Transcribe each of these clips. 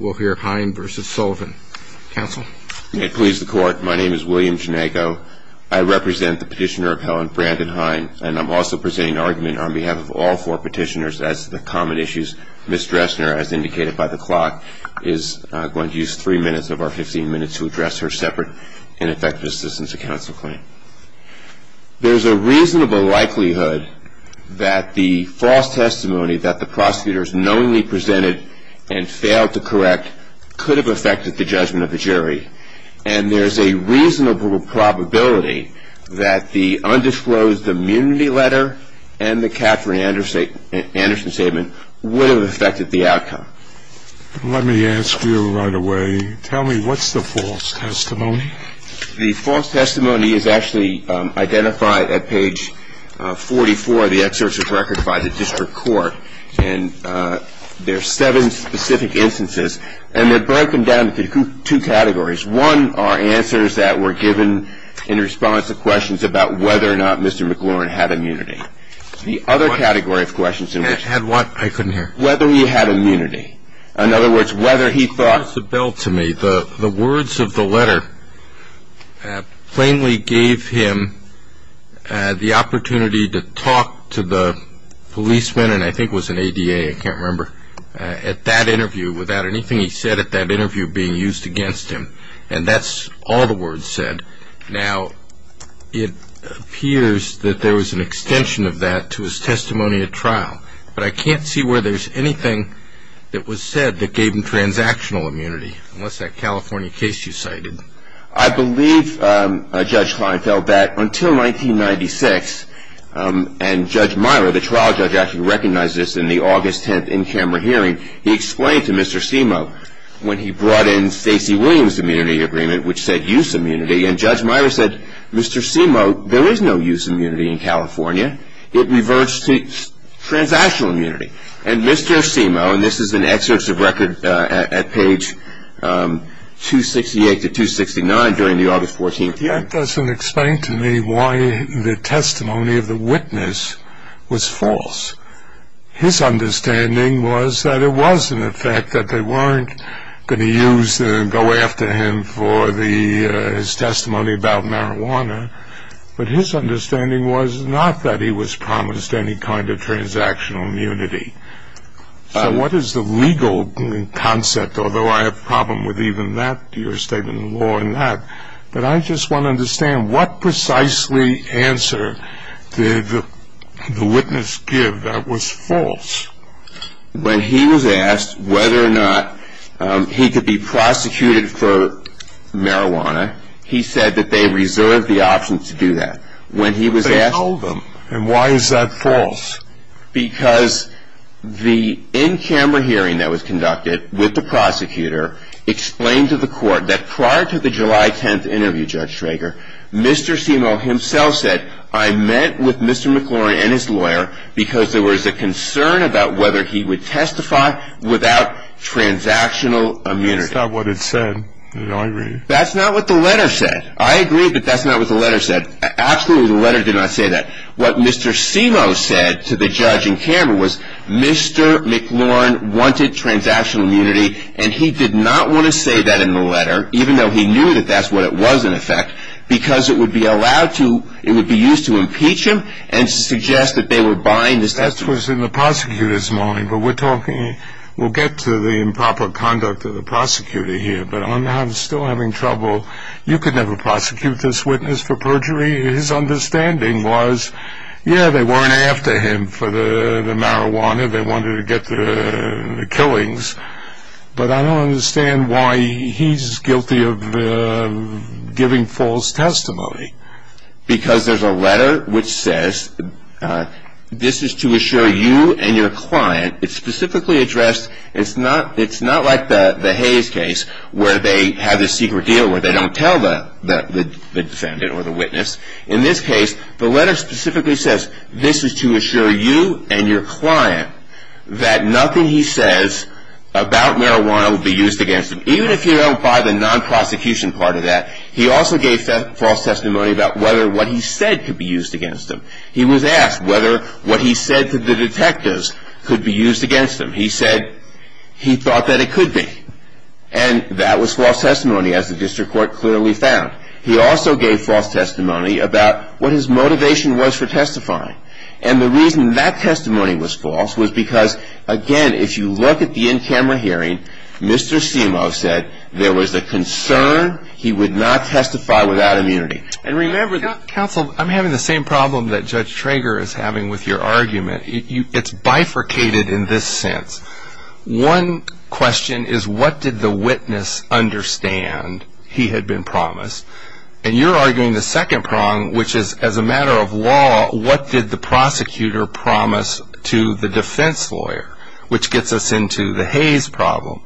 We'll hear Hine v. Sullivan. Counsel? May it please the Court, my name is William Janayko. I represent the petitioner of Helen Brandon Hine, and I'm also presenting an argument on behalf of all four petitioners as to the common issues. Ms. Dressner, as indicated by the clock, is going to use three minutes of our 15 minutes to address her separate and effective assistance to counsel claim. There's a reasonable likelihood that the false testimony that the prosecutors knowingly presented and failed to correct could have affected the judgment of the jury. And there's a reasonable probability that the undisclosed immunity letter and the Katherine Anderson statement would have affected the outcome. Let me ask you right away, tell me what's the false testimony? The false testimony is actually identified at page 44 of the excerpt of the record by the district court. And there are seven specific instances, and they're broken down into two categories. One are answers that were given in response to questions about whether or not Mr. McLaurin had immunity. The other category of questions in which he had immunity, in other words, whether he thought The words of the letter plainly gave him the opportunity to talk to the policeman, and I think it was an ADA, I can't remember, at that interview, without anything he said at that interview being used against him. And that's all the words said. Now, it appears that there was an extension of that to his testimony at trial, but I can't see where there's anything that was said that gave him transactional immunity, unless that California case you cited. I believe Judge Klein felt that until 1996, and Judge Myler, the trial judge, actually recognized this in the August 10th in-camera hearing. He explained to Mr. Simo when he brought in Stacey Williams' immunity agreement, which said use immunity, and Judge Myler said, Mr. Simo, there is no use immunity in California. It reverts to transactional immunity. And Mr. Simo, and this is an excerpt of record at page 268 to 269 during the August 14th hearing. That doesn't explain to me why the testimony of the witness was false. His understanding was that it was, in effect, that they weren't going to use and go after him for his testimony about marijuana, but his understanding was not that he was promised any kind of transactional immunity. So what is the legal concept, although I have a problem with even that, your statement in law and that, but I just want to understand what precisely answer did the witness give that was false? When he was asked whether or not he could be prosecuted for marijuana, he said that they reserved the option to do that. But they told him, and why is that false? Because the in-camera hearing that was conducted with the prosecutor explained to the court that prior to the July 10th interview, Judge Schrager, Mr. Simo himself said, I met with Mr. McLaurin and his lawyer because there was a concern about whether he would testify without transactional immunity. That's not what it said in my reading. That's not what the letter said. I agree, but that's not what the letter said. Absolutely, the letter did not say that. What Mr. Simo said to the judge in camera was Mr. McLaurin wanted transactional immunity, and he did not want to say that in the letter, even though he knew that that's what it was, in effect, because it would be used to impeach him and suggest that they were buying the testimony. That was in the prosecutor's mind, but we'll get to the improper conduct of the prosecutor here, but I'm still having trouble. You could never prosecute this witness for perjury. His understanding was, yeah, they weren't after him for the marijuana. They wanted to get the killings, but I don't understand why he's guilty of giving false testimony. Because there's a letter which says this is to assure you and your client. It's specifically addressed, it's not like the Hayes case where they have this secret deal where they don't tell the defendant or the witness. In this case, the letter specifically says this is to assure you and your client that nothing he says about marijuana will be used against him, even if you don't buy the non-prosecution part of that. He also gave false testimony about whether what he said could be used against him. He was asked whether what he said to the detectives could be used against him. He said he thought that it could be, and that was false testimony, as the district court clearly found. He also gave false testimony about what his motivation was for testifying, and the reason that testimony was false was because, again, if you look at the in-camera hearing, Mr. Simo said there was a concern he would not testify without immunity. Counsel, I'm having the same problem that Judge Trager is having with your argument. It's bifurcated in this sense. One question is what did the witness understand he had been promised? And you're arguing the second prong, which is as a matter of law, what did the prosecutor promise to the defense lawyer, which gets us into the Hayes problem.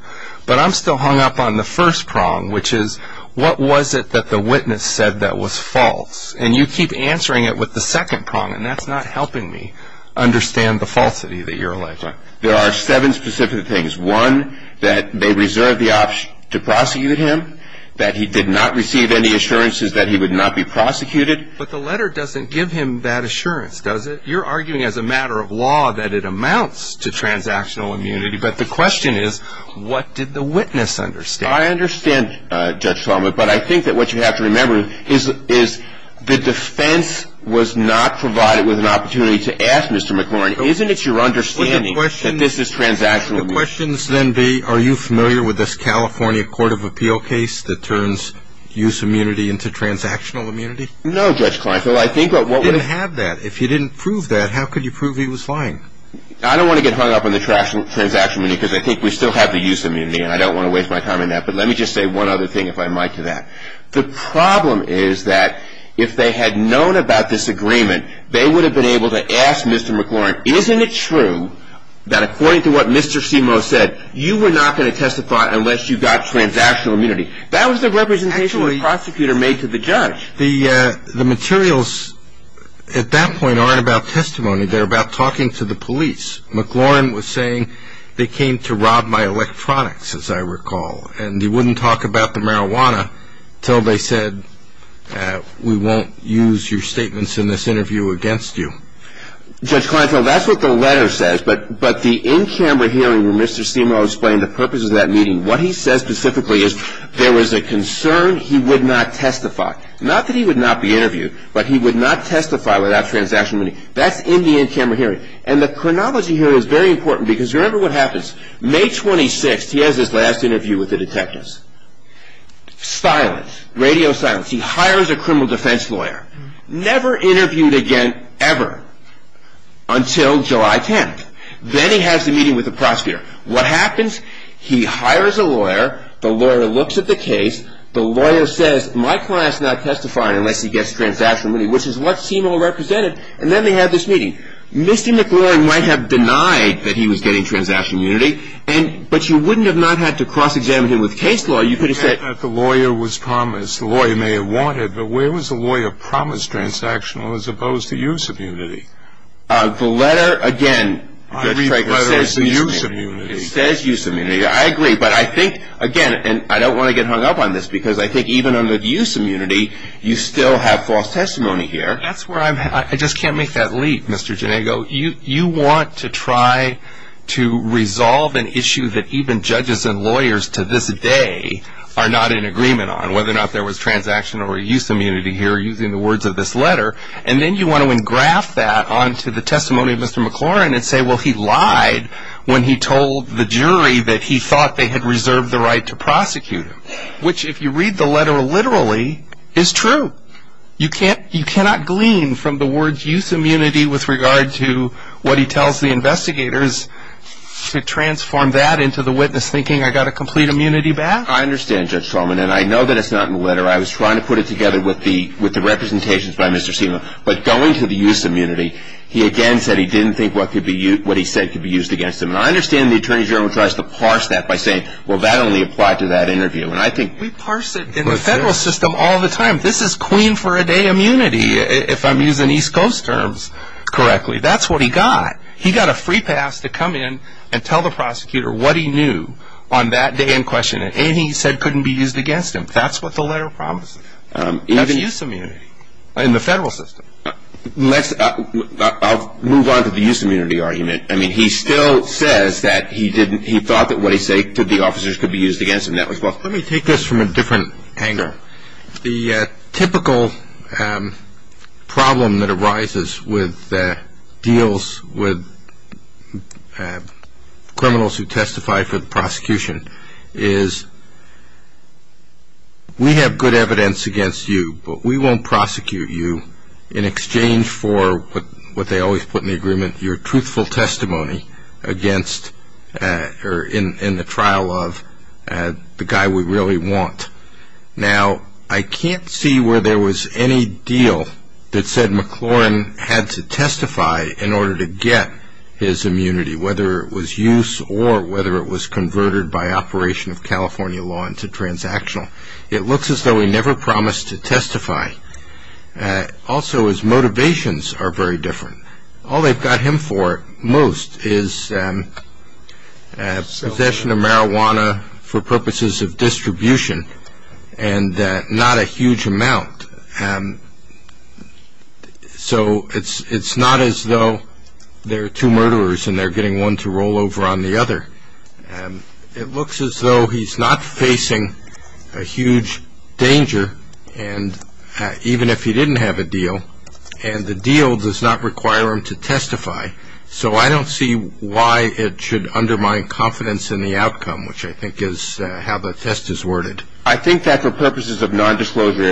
But I'm still hung up on the first prong, which is what was it that the witness said that was false? And you keep answering it with the second prong, and that's not helping me understand the falsity that you're alleging. There are seven specific things. One, that they reserved the option to prosecute him, that he did not receive any assurances that he would not be prosecuted. But the letter doesn't give him that assurance, does it? You're arguing as a matter of law that it amounts to transactional immunity, but the question is what did the witness understand? I understand, Judge Kleinfeld, but I think that what you have to remember is the defense was not provided with an opportunity to ask Mr. McLaurin, isn't it your understanding that this is transactional immunity? Would the questions then be, are you familiar with this California Court of Appeal case that turns use immunity into transactional immunity? No, Judge Kleinfeld. I didn't have that. If you didn't prove that, how could you prove he was lying? I don't want to get hung up on the transactional immunity because I think we still have the use immunity, and I don't want to waste my time on that. But let me just say one other thing, if I might, to that. The problem is that if they had known about this agreement, they would have been able to ask Mr. McLaurin, isn't it true that according to what Mr. Simoes said, you were not going to testify unless you got transactional immunity? That was the representation the prosecutor made to the judge. The materials at that point aren't about testimony. They're about talking to the police. McLaurin was saying they came to rob my electronics, as I recall, and he wouldn't talk about the marijuana until they said we won't use your statements in this interview against you. Judge Kleinfeld, that's what the letter says, but the in-camera hearing where Mr. Simoes explained the purpose of that meeting, what he says specifically is there was a concern he would not testify. Not that he would not be interviewed, but he would not testify without transactional immunity. That's in the in-camera hearing. And the chronology here is very important because remember what happens. May 26th, he has his last interview with the detectives. Silence. Radio silence. He hires a criminal defense lawyer. Never interviewed again, ever, until July 10th. Then he has the meeting with the prosecutor. What happens? He hires a lawyer. The lawyer looks at the case. The lawyer says my client's not testifying unless he gets transactional immunity, which is what Simoes represented. And then they have this meeting. Misty McLaurin might have denied that he was getting transactional immunity, but you wouldn't have not had to cross-examine him with case law. You could have said. The lawyer was promised. The lawyer may have wanted, but where was the lawyer promised transactional as opposed to use immunity? The letter, again. I read the letter as the use immunity. It says use immunity. I agree. But I think, again, and I don't want to get hung up on this because I think even under the use immunity, you still have false testimony here. That's where I'm at. I just can't make that leap, Mr. Ginego. You want to try to resolve an issue that even judges and lawyers to this day are not in agreement on, whether or not there was transactional or use immunity here using the words of this letter, and then you want to engraft that onto the testimony of Mr. McLaurin and say, well, he lied when he told the jury that he thought they had reserved the right to prosecute him, which if you read the letter literally is true. You cannot glean from the words use immunity with regard to what he tells the investigators to transform that into the witness thinking I got a complete immunity back? I understand, Judge Traumann, and I know that it's not in the letter. I was trying to put it together with the representations by Mr. Seema. But going to the use immunity, he again said he didn't think what he said could be used against him. And I understand the Attorney General tries to parse that by saying, well, that only applied to that interview. And I think we parse it in the federal system all the time. This is queen for a day immunity if I'm using East Coast terms correctly. That's what he got. He got a free pass to come in and tell the prosecutor what he knew on that day in question, and he said couldn't be used against him. That's what the letter promises. That's use immunity in the federal system. I'll move on to the use immunity argument. I mean, he still says that he thought that what he said to the officers could be used against him. Let me take this from a different angle. The typical problem that arises with deals with criminals who testify for the prosecution is we have good evidence against you, but we won't prosecute you in exchange for what they always put in the agreement, your truthful testimony against or in the trial of the guy we really want. Now, I can't see where there was any deal that said McLaurin had to testify in order to get his immunity, whether it was use or whether it was converted by operation of California law into transactional. It looks as though he never promised to testify. Also, his motivations are very different. All they've got him for most is possession of marijuana for purposes of distribution and not a huge amount. So it's not as though there are two murderers and they're getting one to roll over on the other. It looks as though he's not facing a huge danger, even if he didn't have a deal, and the deal does not require him to testify. So I don't see why it should undermine confidence in the outcome, which I think is how the test is worded. I think that for purposes of non-disclosure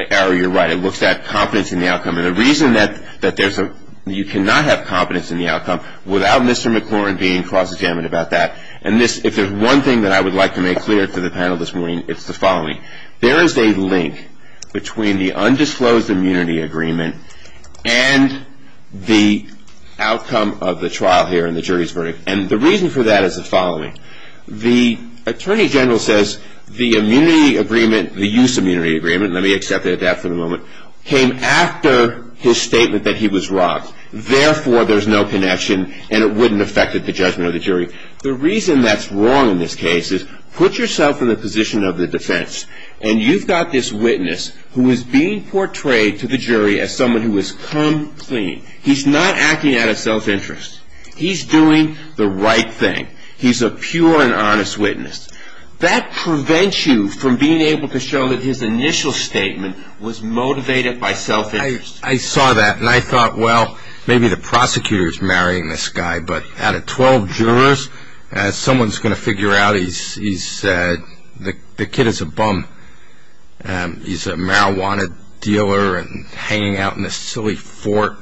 error, you're right, it looks at confidence in the outcome. And the reason that you cannot have confidence in the outcome without Mr. McLaurin being cross-examined about that, and if there's one thing that I would like to make clear to the panel this morning, it's the following. There is a link between the undisclosed immunity agreement and the outcome of the trial here and the jury's verdict. And the reason for that is the following. The attorney general says the use immunity agreement, let me accept that for the moment, came after his statement that he was robbed. Therefore, there's no connection and it wouldn't affect the judgment of the jury. The reason that's wrong in this case is put yourself in the position of the defense, and you've got this witness who is being portrayed to the jury as someone who has come clean. He's not acting out of self-interest. He's doing the right thing. He's a pure and honest witness. That prevents you from being able to show that his initial statement was motivated by self-interest. I saw that and I thought, well, maybe the prosecutor's marrying this guy, but out of 12 jurors, someone's going to figure out the kid is a bum. He's a marijuana dealer and hanging out in a silly fort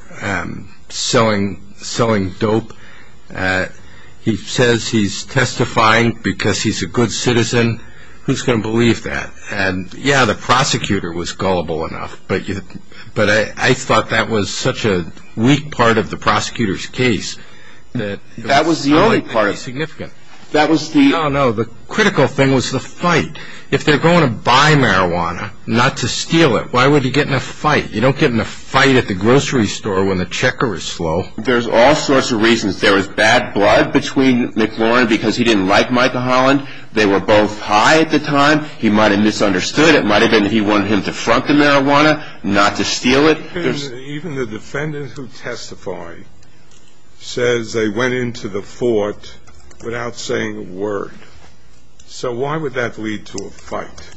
selling dope. He says he's testifying because he's a good citizen. Who's going to believe that? Yeah, the prosecutor was gullible enough, but I thought that was such a weak part of the prosecutor's case. That was the only part. No, no, the critical thing was the fight. If they're going to buy marijuana not to steal it, why would he get in a fight? You don't get in a fight at the grocery store when the checker is slow. There's all sorts of reasons. There was bad blood between McLaurin because he didn't like Michael Holland. They were both high at the time. He might have misunderstood. It might have been that he wanted him to front the marijuana, not to steal it. Even the defendant who testified says they went into the fort without saying a word. So why would that lead to a fight?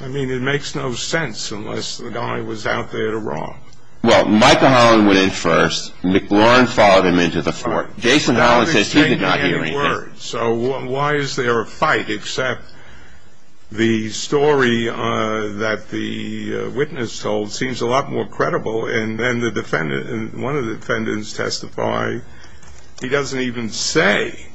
I mean, it makes no sense unless the guy was out there to rob. Well, Michael Holland went in first. McLaurin followed him into the fort. Jason Holland says he did not hear anything. So why is there a fight except the story that the witness told seems a lot more credible and one of the defendants testified he doesn't even say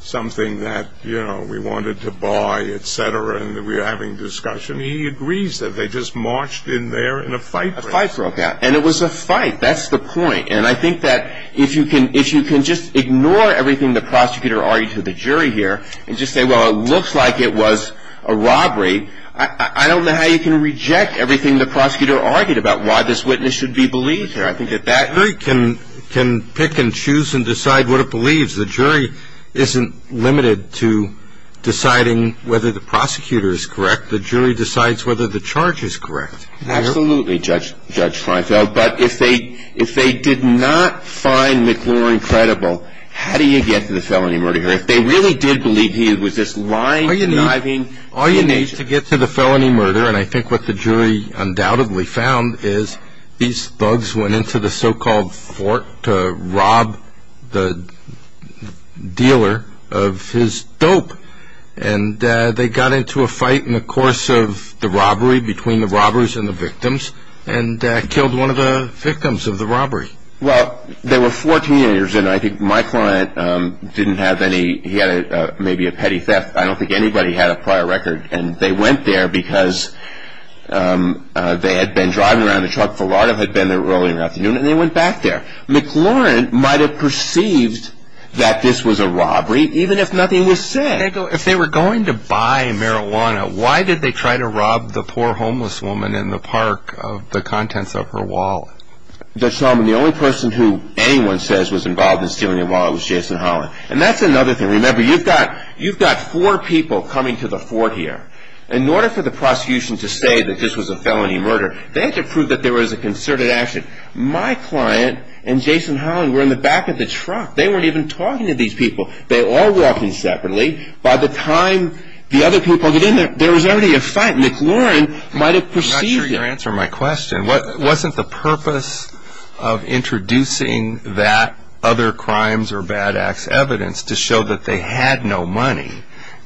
something that, you know, we wanted to buy, et cetera, and we were having a discussion. He agrees that they just marched in there in a fight. A fight broke out, and it was a fight. That's the point. And I think that if you can just ignore everything the prosecutor argued to the jury here and just say, well, it looks like it was a robbery, I don't know how you can reject everything the prosecutor argued about, why this witness should be believed here. I think that that jury can pick and choose and decide what it believes. The jury isn't limited to deciding whether the prosecutor is correct. The jury decides whether the charge is correct. Absolutely, Judge Feinfeld. But if they did not find McLaurin credible, how do you get to the felony murder here? If they really did believe he was just lying, conniving. All you need is to get to the felony murder, and I think what the jury undoubtedly found is these thugs went into the so-called fort to rob the dealer of his dope, and they got into a fight in the course of the robbery between the robbers and the victims and killed one of the victims of the robbery. Well, they were 14 years in. I think my client didn't have any, he had maybe a petty theft. I don't think anybody had a prior record, and they went there because they had been driving around the truck. Filardo had been there early in the afternoon, and they went back there. McLaurin might have perceived that this was a robbery, even if nothing was said. If they were going to buy marijuana, why did they try to rob the poor homeless woman in the park of the contents of her wallet? Judge Solomon, the only person who anyone says was involved in stealing her wallet was Jason Holland, and that's another thing. Remember, you've got four people coming to the fort here. In order for the prosecution to say that this was a felony murder, they had to prove that there was a concerted action. My client and Jason Holland were in the back of the truck. They weren't even talking to these people. They were all walking separately. By the time the other people got in there, there was already a fight. McLaurin might have perceived it. I'm not sure you're answering my question. Wasn't the purpose of introducing that other crimes or bad acts evidence to show that they had no money,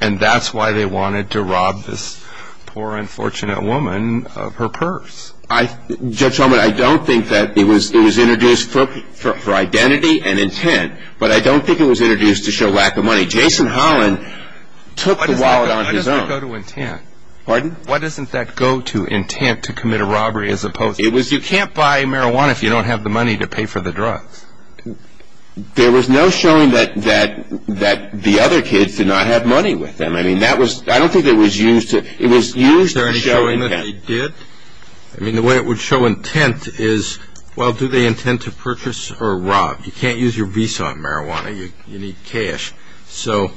and that's why they wanted to rob this poor, unfortunate woman of her purse? Judge Solomon, I don't think that it was introduced for identity and intent, but anyway, Jason Holland took the wallet on his own. Why doesn't it go to intent? Pardon? Why doesn't that go to intent to commit a robbery as opposed to? You can't buy marijuana if you don't have the money to pay for the drugs. There was no showing that the other kids did not have money with them. I don't think it was used to show intent. Was there a showing that they did? I mean, the way it would show intent is, well, do they intend to purchase or rob? You can't use your Visa on marijuana. You need cash. So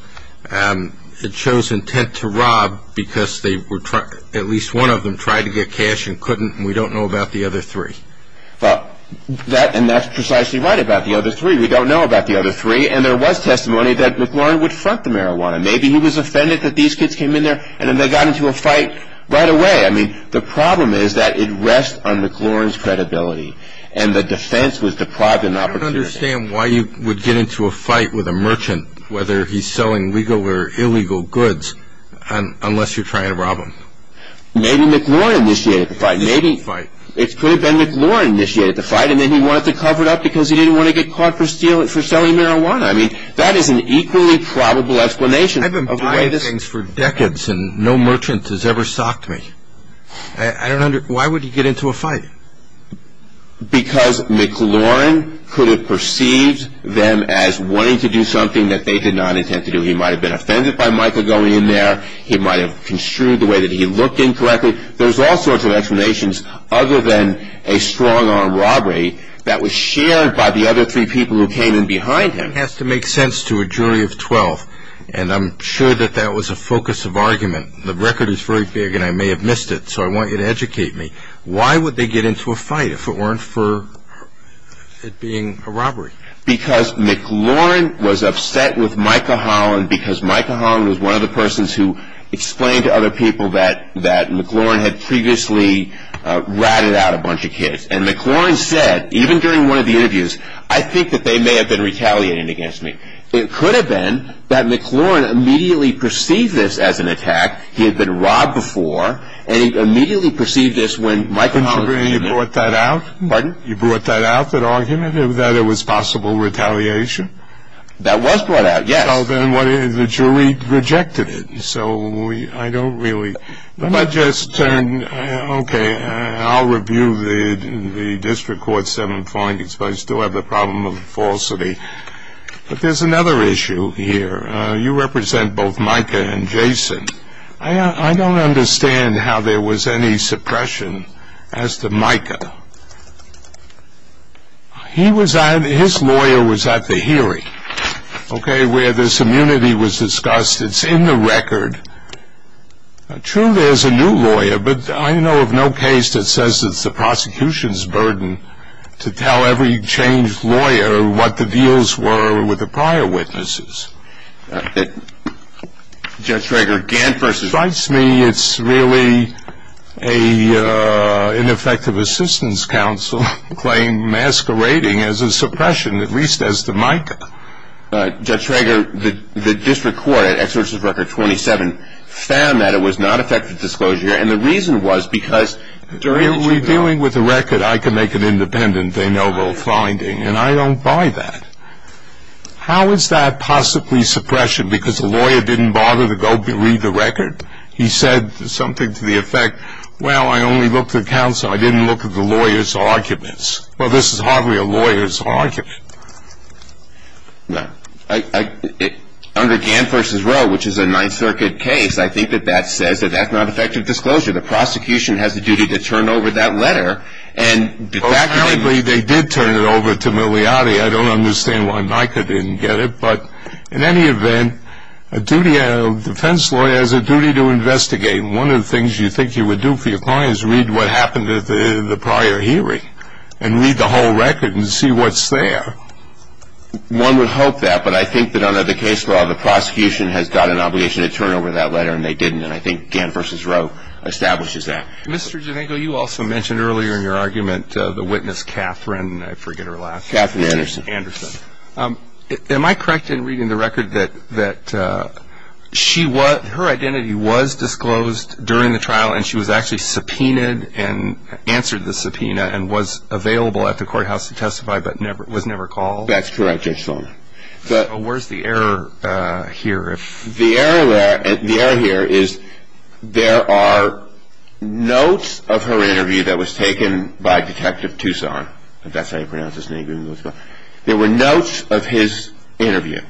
it shows intent to rob because at least one of them tried to get cash and couldn't, and we don't know about the other three. And that's precisely right about the other three. We don't know about the other three, and there was testimony that McLaurin would front the marijuana. Maybe he was offended that these kids came in there, and then they got into a fight right away. I mean, the problem is that it rests on McLaurin's credibility, and the defense was deprived of an opportunity. I don't understand why you would get into a fight with a merchant, whether he's selling legal or illegal goods, unless you're trying to rob him. Maybe McLaurin initiated the fight. It could have been McLaurin initiated the fight, and then he wanted to cover it up because he didn't want to get caught for selling marijuana. I mean, that is an equally probable explanation. I've been buying things for decades, and no merchant has ever socked me. Why would he get into a fight? Because McLaurin could have perceived them as wanting to do something that they did not intend to do. He might have been offended by Michael going in there. He might have construed the way that he looked incorrectly. There's all sorts of explanations other than a strong-arm robbery that was shared by the other three people who came in behind him. It has to make sense to a jury of 12, and I'm sure that that was a focus of argument. The record is very big, and I may have missed it, so I want you to educate me. Why would they get into a fight if it weren't for it being a robbery? Because McLaurin was upset with Michael Holland because Michael Holland was one of the persons who explained to other people that McLaurin had previously ratted out a bunch of kids. And McLaurin said, even during one of the interviews, I think that they may have been retaliating against me. It could have been that McLaurin immediately perceived this as an attack. He had been robbed before, and he immediately perceived this when Michael Holland came in. And you brought that out? Pardon? You brought that out, that argument, that it was possible retaliation? That was brought out, yes. So then what is it? The jury rejected it, so I don't really. Let me just turn. Okay, I'll review the District Court 7 findings, but I still have the problem of falsity. But there's another issue here. You represent both Micah and Jason. I don't understand how there was any suppression as to Micah. His lawyer was at the hearing, okay, where this immunity was discussed. It's in the record. True, there's a new lawyer, but I know of no case that says it's the prosecution's burden to tell every changed lawyer what the deals were with the prior witnesses. Judge Trager, Gant versus. It strikes me it's really an ineffective assistance counsel claim masquerading as a suppression, at least as to Micah. Judge Trager, the District Court at X versus Record 27 found that it was not effective disclosure, and the reason was because. Reviewing with the record, I can make it independent. They know both findings, and I don't buy that. How is that possibly suppression because the lawyer didn't bother to go read the record? He said something to the effect, well, I only looked at counsel. I didn't look at the lawyer's arguments. Well, this is hardly a lawyer's argument. No. Under Gant versus Roe, which is a Ninth Circuit case, I think that that says that that's not effective disclosure. The prosecution has a duty to turn over that letter. Apparently they did turn it over to Milioti. I don't understand why Micah didn't get it. But in any event, a defense lawyer has a duty to investigate. One of the things you think you would do for your client is read what happened at the prior hearing and read the whole record and see what's there. One would hope that, but I think that under the case law, the prosecution has got an obligation to turn over that letter, and they didn't. And I think Gant versus Roe establishes that. Mr. Janenko, you also mentioned earlier in your argument the witness Catherine, I forget her last name. Catherine Anderson. Am I correct in reading the record that her identity was disclosed during the trial and she was actually subpoenaed and answered the subpoena and was available at the courthouse to testify but was never called? That's correct, Judge Sloan. Where's the error here? The error here is there are notes of her interview that was taken by Detective Toussaint, if that's how you pronounce his name. There were notes of his interview.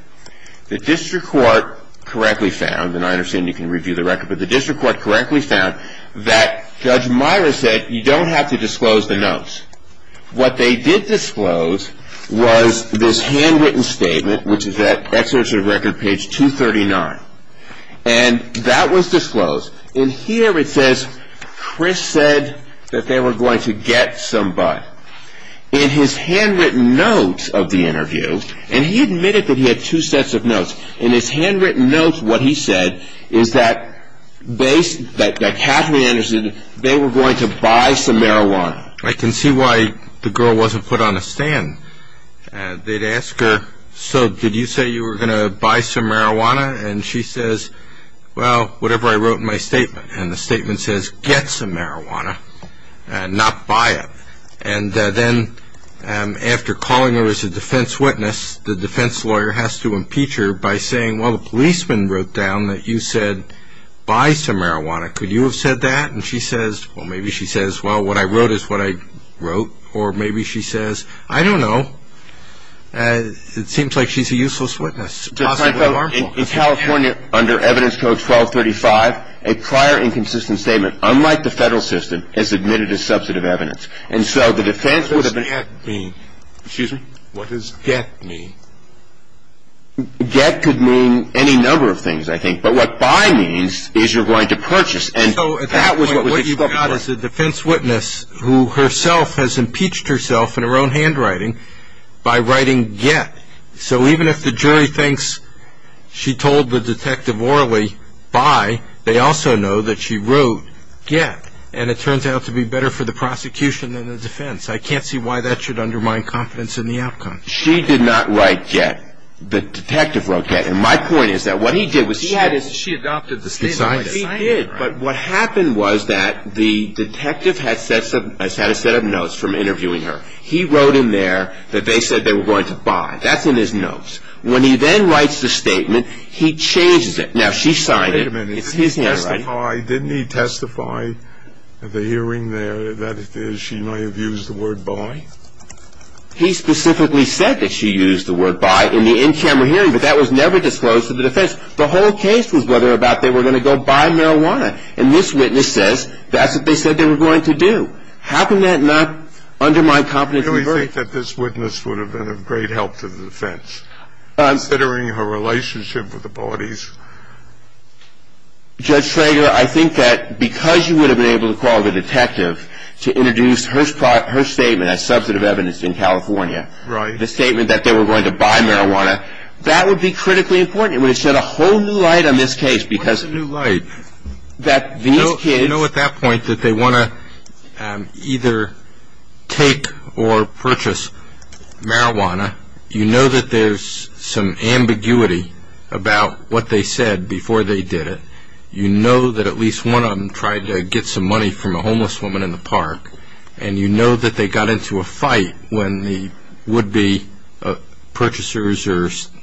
The district court correctly found, and I understand you can review the record, but the district court correctly found that Judge Meyer said you don't have to disclose the notes. What they did disclose was this handwritten statement, which is at Exegetive Record page 239, and that was disclosed. And here it says Chris said that they were going to get somebody. In his handwritten note of the interview, and he admitted that he had two sets of notes, in his handwritten note what he said is that Catherine Anderson, they were going to buy some marijuana. I can see why the girl wasn't put on a stand. They'd ask her, so did you say you were going to buy some marijuana? And she says, well, whatever I wrote in my statement. And the statement says get some marijuana and not buy it. And then after calling her as a defense witness, the defense lawyer has to impeach her by saying, well, the policeman wrote down that you said buy some marijuana. Could you have said that? And she says, well, maybe she says, well, what I wrote is what I wrote. Or maybe she says, I don't know. It seems like she's a useless witness, possibly harmful. In California, under Evidence Code 1235, a prior inconsistent statement unlike the federal system is admitted as substantive evidence. And so the defense would have been. What does get mean? Excuse me? What does get mean? Get could mean any number of things, I think. But what buy means is you're going to purchase. And so at that point, what you've got is a defense witness who herself has impeached herself in her own handwriting by writing get. So even if the jury thinks she told the detective orally buy, they also know that she wrote get. And it turns out to be better for the prosecution than the defense. I can't see why that should undermine confidence in the outcome. She did not write get. The detective wrote get. And my point is that what he did was she adopted the statement. He did. But what happened was that the detective had a set of notes from interviewing her. He wrote in there that they said they were going to buy. That's in his notes. When he then writes the statement, he changes it. Now, she signed it. It's his handwriting. Wait a minute. Didn't he testify at the hearing there that she might have used the word buy? He specifically said that she used the word buy in the in-camera hearing, but that was never disclosed to the defense. The whole case was whether or not they were going to go buy marijuana. And this witness says that's what they said they were going to do. How can that not undermine confidence in the jury? Do you really think that this witness would have been of great help to the defense, considering her relationship with the bodies? Judge Schrager, I think that because you would have been able to call the detective to introduce her statement as substantive evidence in California, the statement that they were going to buy marijuana, that would be critically important. It would have shed a whole new light on this case. A whole new light. You know at that point that they want to either take or purchase marijuana. You know that there's some ambiguity about what they said before they did it. You know that at least one of them tried to get some money from a homeless woman in the park. And you know that they got into a fight when the would-be purchasers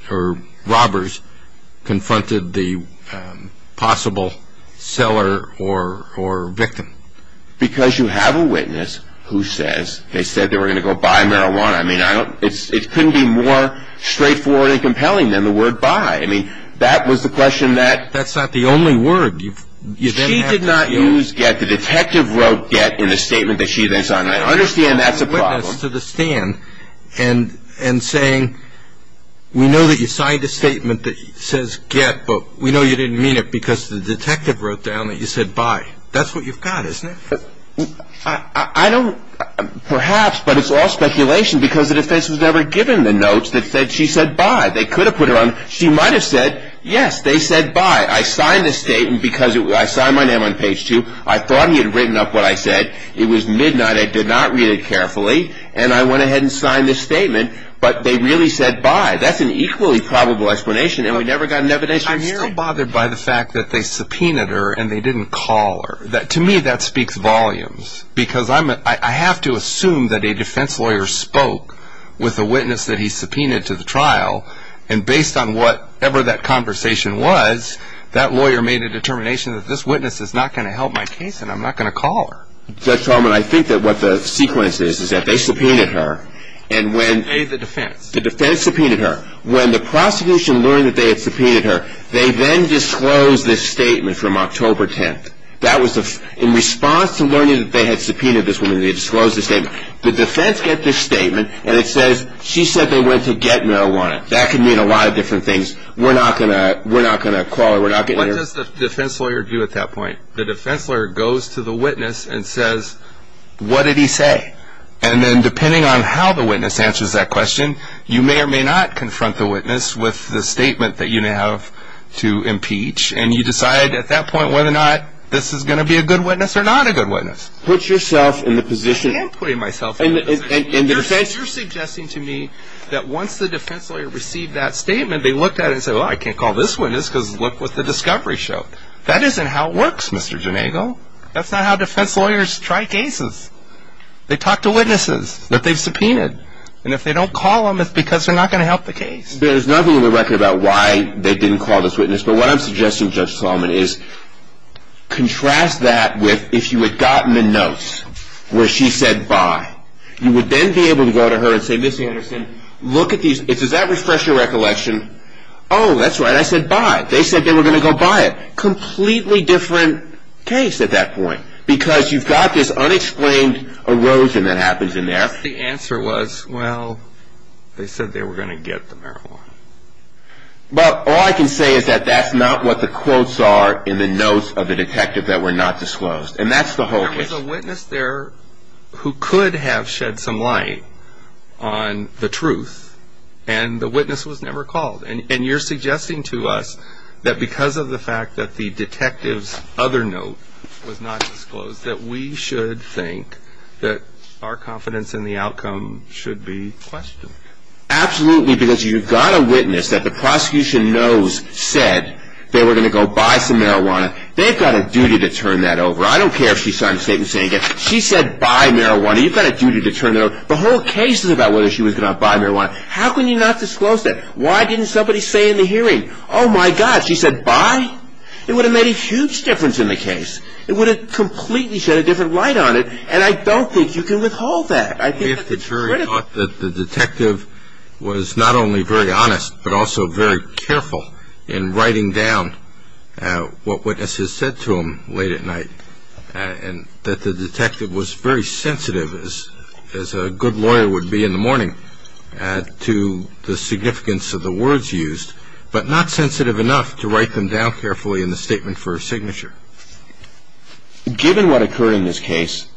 or robbers confronted the possible seller or victim. Because you have a witness who says they said they were going to go buy marijuana. I mean, it couldn't be more straightforward and compelling than the word buy. I mean, that was the question that... That's not the only word. She did not use get. The detective wrote get in the statement that she then signed. I understand that's a problem. Witness to the stand and saying we know that you signed a statement that says get, but we know you didn't mean it because the detective wrote down that you said buy. That's what you've got, isn't it? I don't... Perhaps, but it's all speculation because the defense was never given the notes that she said buy. They could have put it on. She might have said, yes, they said buy. I signed the statement because I signed my name on page two. I thought he had written up what I said. It was midnight. I did not read it carefully. And I went ahead and signed the statement, but they really said buy. That's an equally probable explanation, and we never got an evidence. I'm still bothered by the fact that they subpoenaed her and they didn't call her. To me, that speaks volumes because I have to assume that a defense lawyer spoke with a witness that he subpoenaed to the trial. And based on whatever that conversation was, that lawyer made a determination that this witness is not going to help my case and I'm not going to call her. Judge Talman, I think that what the sequence is is that they subpoenaed her. And when... They, the defense. The defense subpoenaed her. When the prosecution learned that they had subpoenaed her, they then disclosed this statement from October 10th. That was in response to learning that they had subpoenaed this woman, they disclosed the statement. The defense got this statement, and it says she said they went to get marijuana. That could mean a lot of different things. We're not going to call her. We're not going to... What does the defense lawyer do at that point? The defense lawyer goes to the witness and says, what did he say? And then depending on how the witness answers that question, you may or may not confront the witness with the statement that you have to impeach. And you decide at that point whether or not this is going to be a good witness or not a good witness. Put yourself in the position... I am putting myself in the position. And the defense... You're suggesting to me that once the defense lawyer received that statement, they looked at it and said, well, I can't call this witness because look what the discovery showed. That isn't how it works, Mr. Janagel. That's not how defense lawyers try cases. They talk to witnesses that they've subpoenaed. And if they don't call them, it's because they're not going to help the case. There's nothing in the record about why they didn't call this witness. But what I'm suggesting, Judge Solomon, is contrast that with if you had gotten the notes where she said bye, you would then be able to go to her and say, Ms. Anderson, look at these. Does that refresh your recollection? Oh, that's right, I said bye. They said they were going to go buy it. Completely different case at that point because you've got this unexplained erosion that happens in there. The answer was, well, they said they were going to get the marijuana. But all I can say is that that's not what the quotes are in the notes of the detective that were not disclosed. And that's the whole case. There was a witness there who could have shed some light on the truth, and the witness was never called. And you're suggesting to us that because of the fact that the detective's other note was not disclosed, that we should think that our confidence in the outcome should be questioned. Absolutely, because you've got a witness that the prosecution knows said they were going to go buy some marijuana. They've got a duty to turn that over. I don't care if she signed a statement saying she said buy marijuana. You've got a duty to turn that over. The whole case is about whether she was going to buy marijuana. How can you not disclose that? Why didn't somebody say in the hearing, oh, my God, she said buy? It would have made a huge difference in the case. It would have completely shed a different light on it, and I don't think you can withhold that. If the jury thought that the detective was not only very honest but also very careful in writing down what witnesses said to him late at night, and that the detective was very sensitive, as a good lawyer would be in the morning, to the significance of the words used, but not sensitive enough to write them down carefully in the statement for a signature. Given what occurred in this case,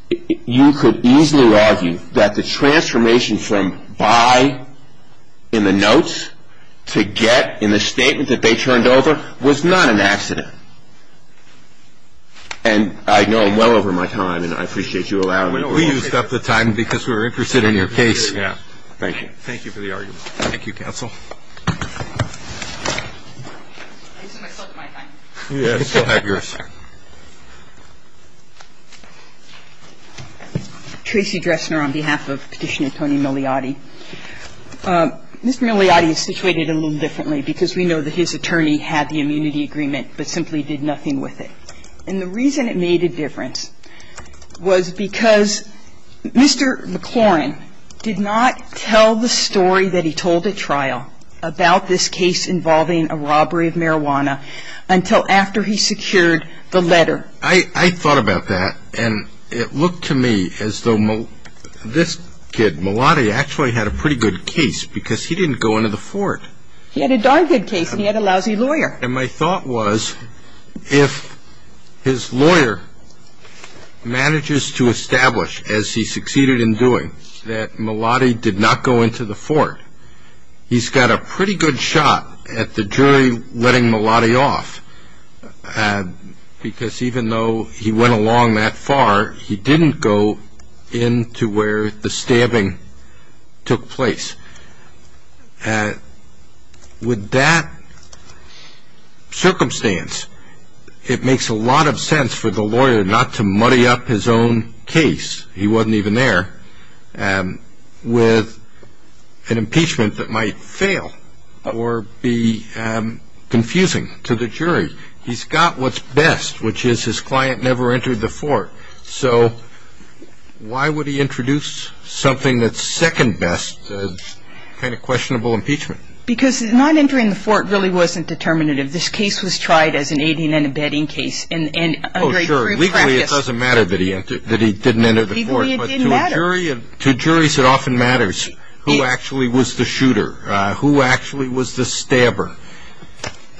you could easily argue that the transformation from buy in the notes to get in the statement that they turned over was not an accident. And I know I'm well over my time, and I appreciate you allowing me to... We used up the time because we were interested in your case. Yeah. Thank you for the argument. Thank you, counsel. I still have my time. Yes, we'll have yours. Tracy Dressner on behalf of Petitioner Tony Migliotti. Mr. Migliotti is situated a little differently because we know that his attorney had the immunity agreement but simply did nothing with it. And the reason it made a difference was because Mr. McLaurin did not tell the story that he told at trial about this case involving a robbery of marijuana until after he secured the letter. I thought about that, and it looked to me as though this kid, Migliotti actually had a pretty good case because he didn't go into the fort. He had a darn good case, and he had a lousy lawyer. And my thought was if his lawyer manages to establish, as he succeeded in doing, that Migliotti did not go into the fort, he's got a pretty good shot at the jury letting Migliotti off because even though he went along that far, he didn't go into where the stabbing took place. With that circumstance, it makes a lot of sense for the lawyer not to muddy up his own case. He wasn't even there with an impeachment that might fail or be confusing to the jury. He's got what's best, which is his client never entered the fort. So why would he introduce something that's second best, a kind of questionable impeachment? Because not entering the fort really wasn't determinative. This case was tried as an aiding and abetting case.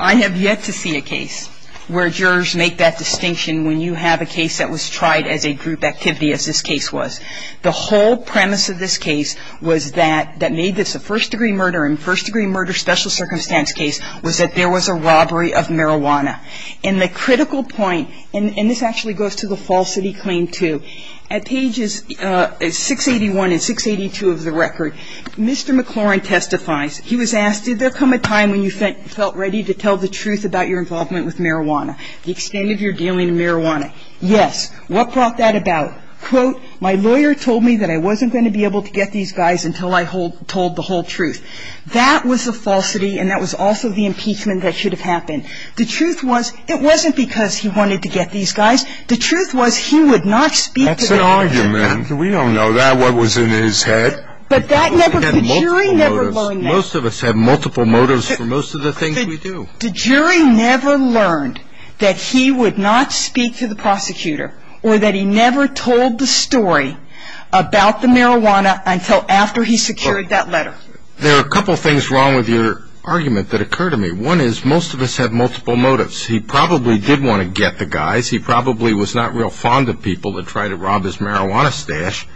I have yet to see a case where jurors make that distinction when you have a case that was tried as a group activity as this case was. The whole premise of this case was that that made this a first-degree murder and first-degree murder special circumstance case was that there was a robbery of marijuana. And that's the point. And this actually goes to the falsity claim too. At pages 681 and 682 of the record, Mr. McLaurin testifies. He was asked, did there come a time when you felt ready to tell the truth about your involvement with marijuana, the extent of your dealing with marijuana? Yes. What brought that about? Quote, my lawyer told me that I wasn't going to be able to get these guys until I told the whole truth. That was a falsity and that was also the impeachment that should have happened. The truth was it wasn't because he wanted to get these guys. The truth was he would not speak to them. That's an argument. We don't know that, what was in his head. But that never, the jury never learned that. Most of us have multiple motives for most of the things we do. The jury never learned that he would not speak to the prosecutor or that he never told the story about the marijuana until after he secured that letter. There are a couple things wrong with your argument that occurred to me. One is most of us have multiple motives. He probably did want to get the guys. He probably was not real fond of people that tried to rob his marijuana stash,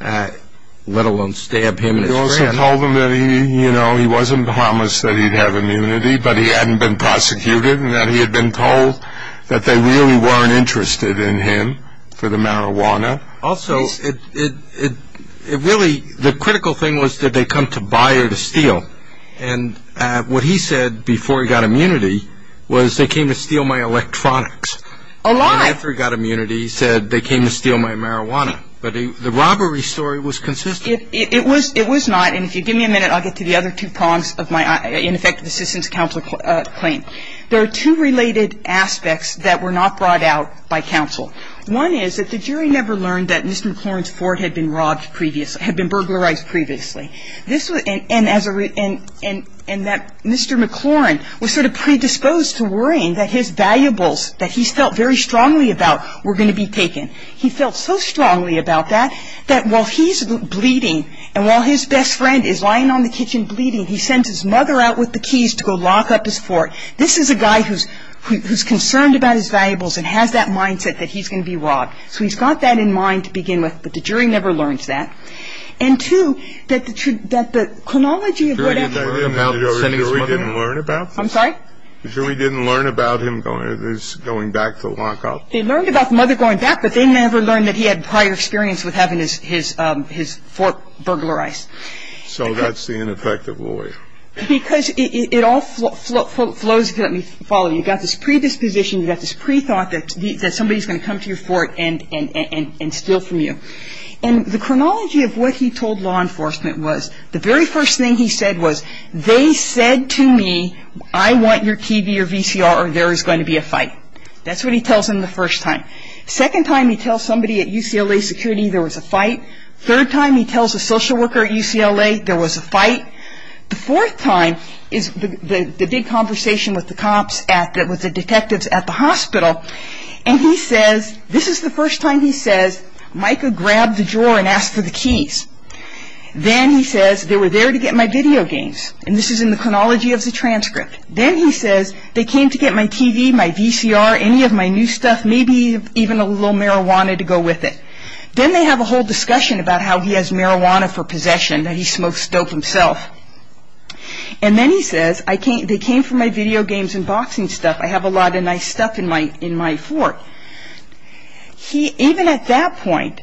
let alone stab him in his head. You also told him that he, you know, he wasn't promised that he'd have immunity, but he hadn't been prosecuted and that he had been told that they really weren't interested in him for the marijuana. Also, it really, the critical thing was did they come to buy or to steal? No. And what he said before he got immunity was they came to steal my electronics. A lie. And after he got immunity, he said they came to steal my marijuana. But the robbery story was consistent. It was not. And if you give me a minute, I'll get to the other two prongs of my ineffective assistance counsel claim. There are two related aspects that were not brought out by counsel. One is that the jury never learned that Mr. McLaurin's Ford had been robbed previously, had been burglarized previously. And that Mr. McLaurin was sort of predisposed to worrying that his valuables that he felt very strongly about were going to be taken. He felt so strongly about that, that while he's bleeding and while his best friend is lying on the kitchen bleeding, he sends his mother out with the keys to go lock up his Ford. This is a guy who's concerned about his valuables and has that mindset that he's going to be robbed. So he's got that in mind to begin with, but the jury never learns that. And two, that the chronology of what happened. The jury didn't learn about this? I'm sorry? The jury didn't learn about him going back to lock up? They learned about the mother going back, but they never learned that he had prior experience with having his Ford burglarized. So that's the ineffective lawyer. Because it all flows, let me follow you. You've got this predisposition, you've got this pre-thought that somebody's going to come to your Ford and steal from you. And the chronology of what he told law enforcement was, the very first thing he said was, they said to me I want your TV or VCR or there is going to be a fight. That's what he tells them the first time. Second time he tells somebody at UCLA security there was a fight. Third time he tells a social worker at UCLA there was a fight. The fourth time is the big conversation with the cops at the, with the detectives at the hospital. And he says, this is the first time he says, Micah grabbed the drawer and asked for the keys. Then he says, they were there to get my video games. And this is in the chronology of the transcript. Then he says, they came to get my TV, my VCR, any of my new stuff, maybe even a little marijuana to go with it. Then they have a whole discussion about how he has marijuana for possession, that he smokes dope himself. And then he says, they came for my video games and boxing stuff. I have a lot of nice stuff in my fort. He, even at that point,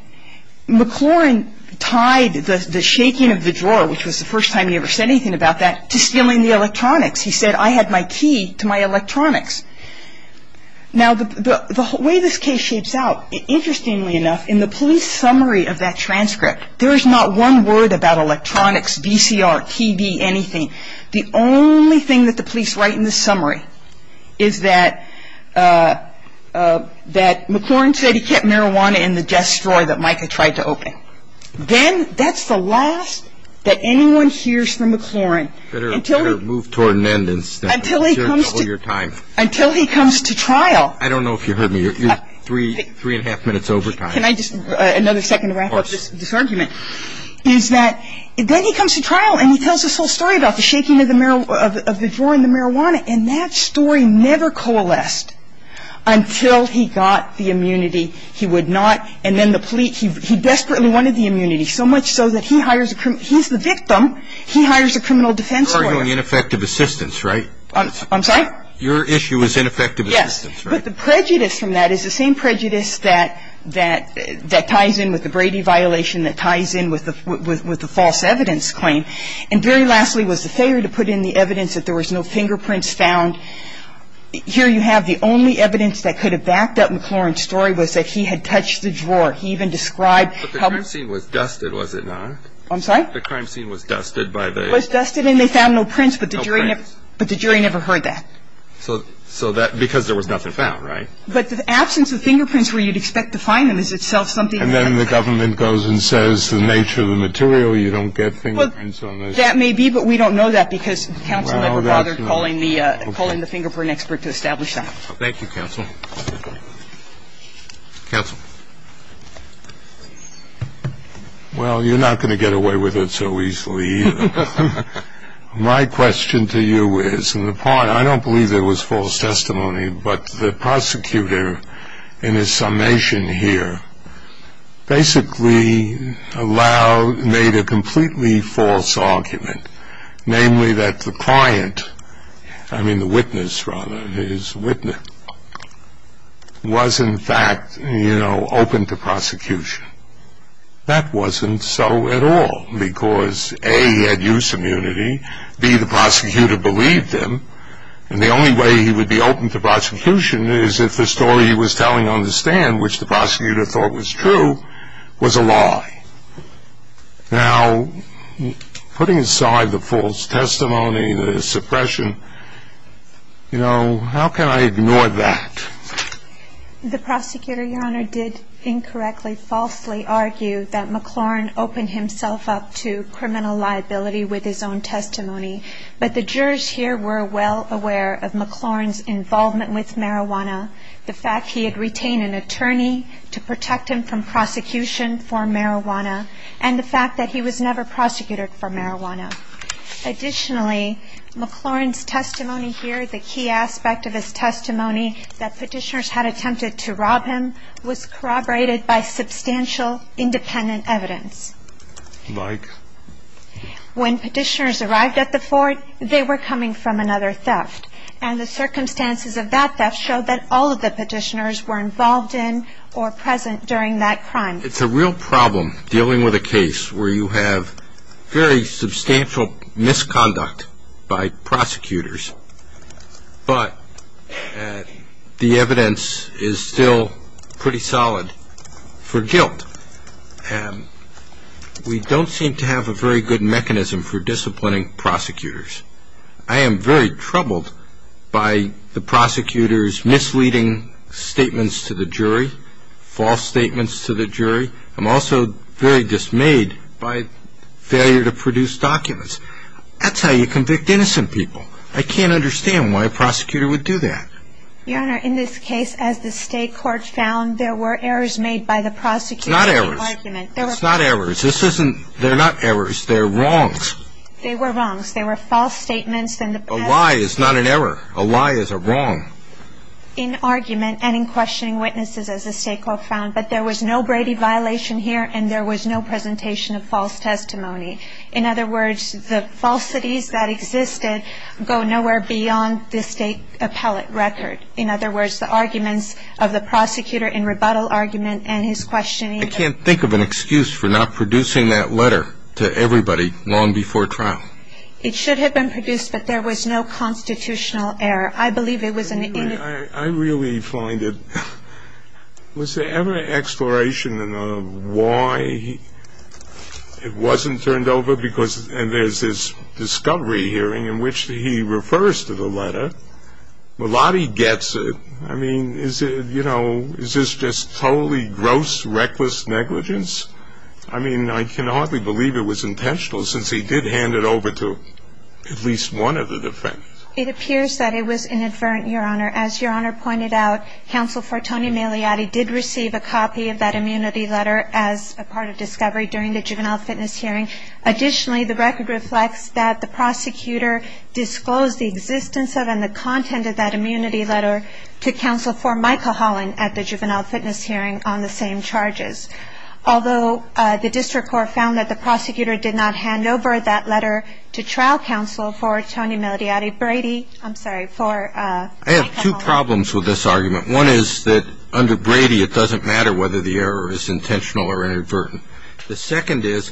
McLaurin tied the shaking of the drawer, which was the first time he ever said anything about that, to stealing the electronics. He said, I had my key to my electronics. Now, the way this case shapes out, interestingly enough, in the police summary of that transcript, there is not one word about electronics, VCR, TV, anything. The only thing that the police write in the summary is that McLaurin said he kept marijuana in the desk drawer that Micah tried to open. Then that's the last that anyone hears from McLaurin until he comes to trial. I don't know if you heard me. You're three and a half minutes over time. Can I just, another second to wrap up this argument? Of course. Then he comes to trial and he tells this whole story about the shaking of the drawer and the marijuana, and that story never coalesced until he got the immunity. He would not, and then the police, he desperately wanted the immunity, so much so that he hires, he's the victim, he hires a criminal defense lawyer. You're arguing ineffective assistance, right? I'm sorry? Your issue is ineffective assistance, right? Yes, but the prejudice from that is the same prejudice that ties in with the Brady violation, that ties in with the false evidence claim. And very lastly was the failure to put in the evidence that there was no fingerprints found. Here you have the only evidence that could have backed up McLaurin's story was that he had touched the drawer. He even described how the scene was dusted, was it not? I'm sorry? The crime scene was dusted by the... Was dusted and they found no prints, but the jury never... No prints. But the jury never heard that. So that, because there was nothing found, right? But the absence of fingerprints where you'd expect to find them is itself something... The government goes and says the nature of the material, you don't get fingerprints on those... Well, that may be, but we don't know that because counsel never bothered calling the... Well, that's not... Calling the fingerprint expert to establish that. Thank you, counsel. Counsel. Well, you're not going to get away with it so easily either. My question to you is, in the part, I don't believe there was false testimony, but the prosecutor in his summation here basically allowed, made a completely false argument, namely that the client, I mean the witness rather, his witness, was in fact, you know, open to prosecution. That wasn't so at all because, A, he had use immunity, B, the prosecutor believed him, and the only way he would be open to prosecution is if the story he was telling on the stand, which the prosecutor thought was true, was a lie. Now, putting aside the false testimony, the suppression, you know, how can I ignore that? The prosecutor, Your Honor, did incorrectly, falsely argue that McLaurin opened himself up to criminal liability with his own testimony. But the jurors here were well aware of McLaurin's involvement with marijuana, the fact he had retained an attorney to protect him from prosecution for marijuana, and the fact that he was never prosecuted for marijuana. Additionally, McLaurin's testimony here, the key aspect of his testimony that Petitioners had attempted to rob him, was corroborated by substantial independent evidence. Like? When Petitioners arrived at the fort, they were coming from another theft, and the circumstances of that theft showed that all of the Petitioners were involved in or present during that crime. It's a real problem dealing with a case where you have very substantial misconduct by prosecutors, but the evidence is still pretty solid for guilt. We don't seem to have a very good mechanism for disciplining prosecutors. I am very troubled by the prosecutor's misleading statements to the jury, false statements to the jury. I'm also very dismayed by failure to produce documents. That's how you convict innocent people. I can't understand why a prosecutor would do that. Your Honor, in this case, as the State Court found, there were errors made by the prosecutor. It's not errors. It's not errors. This isn't – they're not errors. They're wrongs. They were wrongs. They were false statements. A lie is not an error. A lie is a wrong. In argument and in questioning witnesses, as the State Court found, that there was no Brady violation here and there was no presentation of false testimony. In other words, the falsities that existed go nowhere beyond the State appellate record. In other words, the arguments of the prosecutor in rebuttal argument and his questioning. I can't think of an excuse for not producing that letter to everybody long before trial. It should have been produced, but there was no constitutional error. I believe it was an – Your Honor, I really find it – was there ever an exploration of why it wasn't turned over because – and there's this discovery hearing in which he refers to the letter. Melati gets it. I mean, is it – you know, is this just totally gross, reckless negligence? I mean, I can hardly believe it was intentional since he did hand it over to at least one of the defendants. It appears that it was inadvertent, Your Honor. As Your Honor pointed out, Counsel for Tony Meliotti did receive a copy of that immunity letter as a part of discovery during the juvenile fitness hearing. Additionally, the record reflects that the prosecutor disclosed the existence of and the content of that immunity letter to Counsel for Michael Holland at the juvenile fitness hearing on the same charges. Although the district court found that the prosecutor did not hand over that letter to trial counsel for Tony Meliotti, Brady – I'm sorry, for – I have two problems with this argument. One is that under Brady it doesn't matter whether the error is intentional or inadvertent. The second is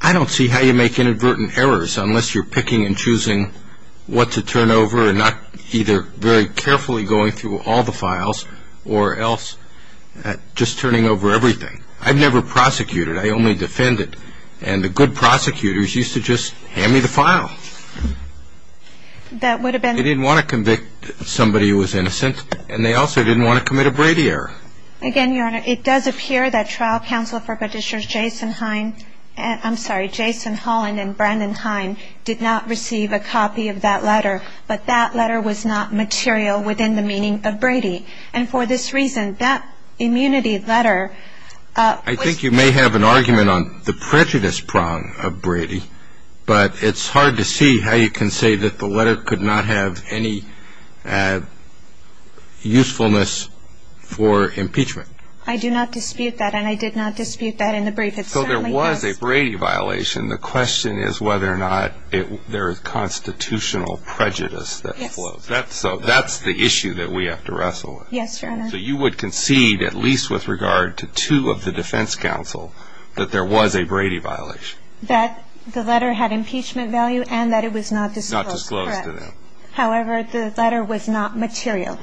I don't see how you make inadvertent errors unless you're picking and choosing what to turn over and not either very carefully going through all the files or else just turning over everything. I've never prosecuted. I only defended. And the good prosecutors used to just hand me the file. That would have been – They didn't want to convict somebody who was innocent, and they also didn't want to commit a Brady error. Again, Your Honor, it does appear that trial counsel for Petitioners Jason Heine – I'm sorry, Jason Holland and Brandon Heine did not receive a copy of that letter, but that letter was not material within the meaning of Brady. And for this reason, that immunity letter was – I think you may have an argument on the prejudice prong of Brady, but it's hard to see how you can say that the letter could not have any usefulness for impeachment. I do not dispute that, and I did not dispute that in the brief. So there was a Brady violation. The question is whether or not there is constitutional prejudice that flows. Yes. So that's the issue that we have to wrestle with. Yes, Your Honor. So you would concede, at least with regard to two of the defense counsel, that there was a Brady violation? That the letter had impeachment value and that it was not disclosed. Not disclosed. Correct. However, the letter was not material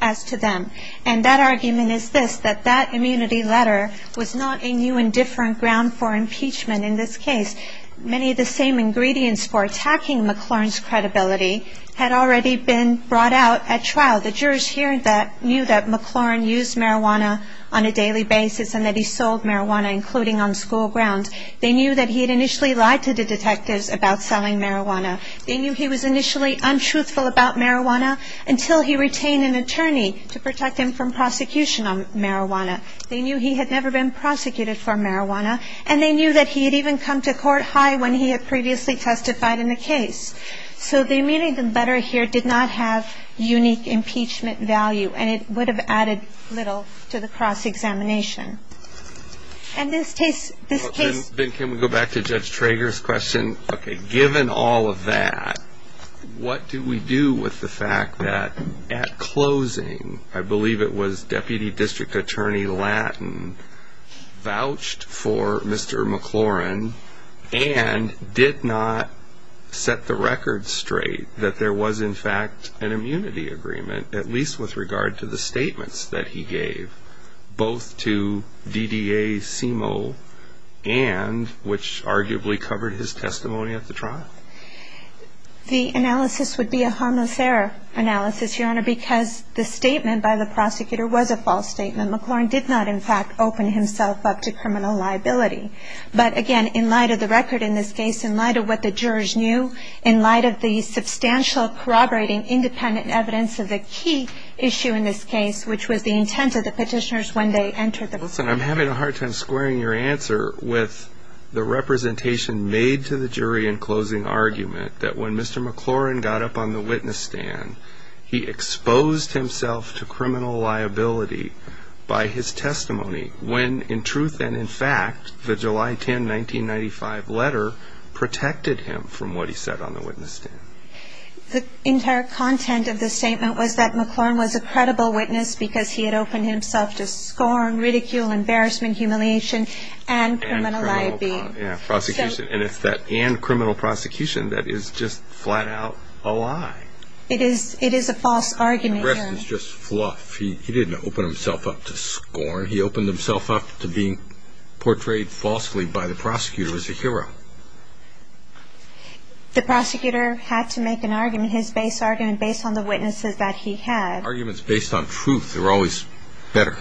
as to them. And that argument is this, that that immunity letter was not a new and different ground for impeachment in this case. Many of the same ingredients for attacking McLaurin's credibility had already been brought out at trial. The jurors here knew that McLaurin used marijuana on a daily basis, and that he sold marijuana, including on school grounds. They knew that he had initially lied to the detectives about selling marijuana. They knew he was initially untruthful about marijuana until he retained an attorney to protect him from prosecution on marijuana. They knew he had never been prosecuted for marijuana, and they knew that he had even come to court high when he had previously testified in a case. So the immunity letter here did not have unique impeachment value, and it would have added little to the cross-examination. Ben, can we go back to Judge Trager's question? Okay, given all of that, what do we do with the fact that at closing, I believe it was Deputy District Attorney Lattin vouched for Mr. McLaurin and did not set the record straight that there was, in fact, an immunity agreement, at least with regard to the statements that he gave, both to DDA, CIMO, and which arguably covered his testimony at the trial? The analysis would be a harmless error analysis, Your Honor, because the statement by the prosecutor was a false statement. McLaurin did not, in fact, open himself up to criminal liability. But again, in light of the record in this case, in light of what the jurors knew, in light of the substantial corroborating independent evidence of the key issue in this case, which was the intent of the petitioners when they entered the courtroom. Listen, I'm having a hard time squaring your answer with the representation made to the jury in closing argument that when Mr. McLaurin got up on the witness stand, he exposed himself to criminal liability by his testimony when, in truth and in fact, the July 10, 1995 letter protected him from what he said on the witness stand. The entire content of the statement was that McLaurin was a credible witness because he had opened himself to scorn, ridicule, embarrassment, humiliation, and criminal liability. Yeah, prosecution. And it's that and criminal prosecution that is just flat out a lie. It is a false argument, Your Honor. The rest is just fluff. He didn't open himself up to scorn. He opened himself up to being portrayed falsely by the prosecutor as a hero. The prosecutor had to make an argument, his base argument, based on the witnesses that he had. Arguments based on truth are always better.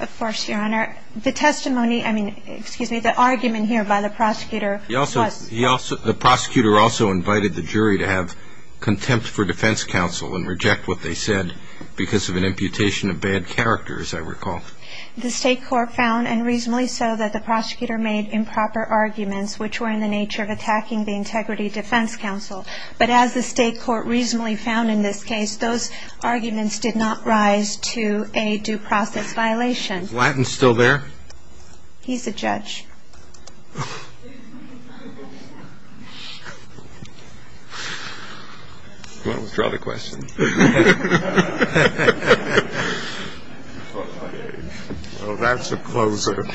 Of course, Your Honor. The testimony, I mean, excuse me, the argument here by the prosecutor was false. The prosecutor also invited the jury to have contempt for defense counsel and reject what they said because of an imputation of bad character, as I recall. The State Court found, and reasonably so, that the prosecutor made improper arguments, which were in the nature of attacking the Integrity Defense Counsel. But as the State Court reasonably found in this case, those arguments did not rise to a due process violation. He's a judge. Do you want to withdraw the question? Well, that's a closer.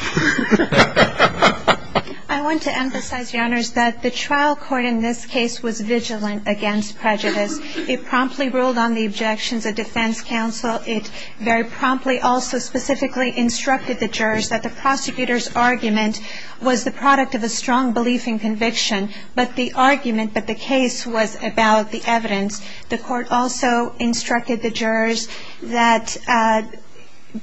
I want to emphasize, Your Honors, that the trial court in this case was vigilant against prejudice. It promptly ruled on the objections of defense counsel. It very promptly also specifically instructed the jurors that the prosecutor's argument was the product of a strong belief in conviction, but the argument that the case was about the evidence. The court also instructed the jurors that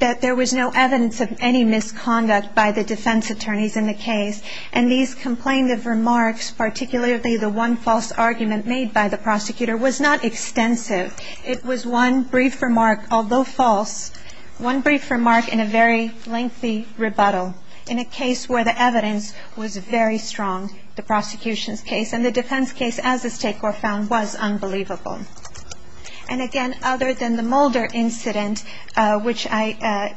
there was no evidence of any misconduct by the defense attorneys in the case. And these complaintive remarks, particularly the one false argument made by the prosecutor, was not extensive. It was one brief remark, although false, one brief remark in a very lengthy rebuttal. In a case where the evidence was very strong, the prosecution's case and the defense case, as the State Court found, was unbelievable. And again, other than the Mulder incident, which I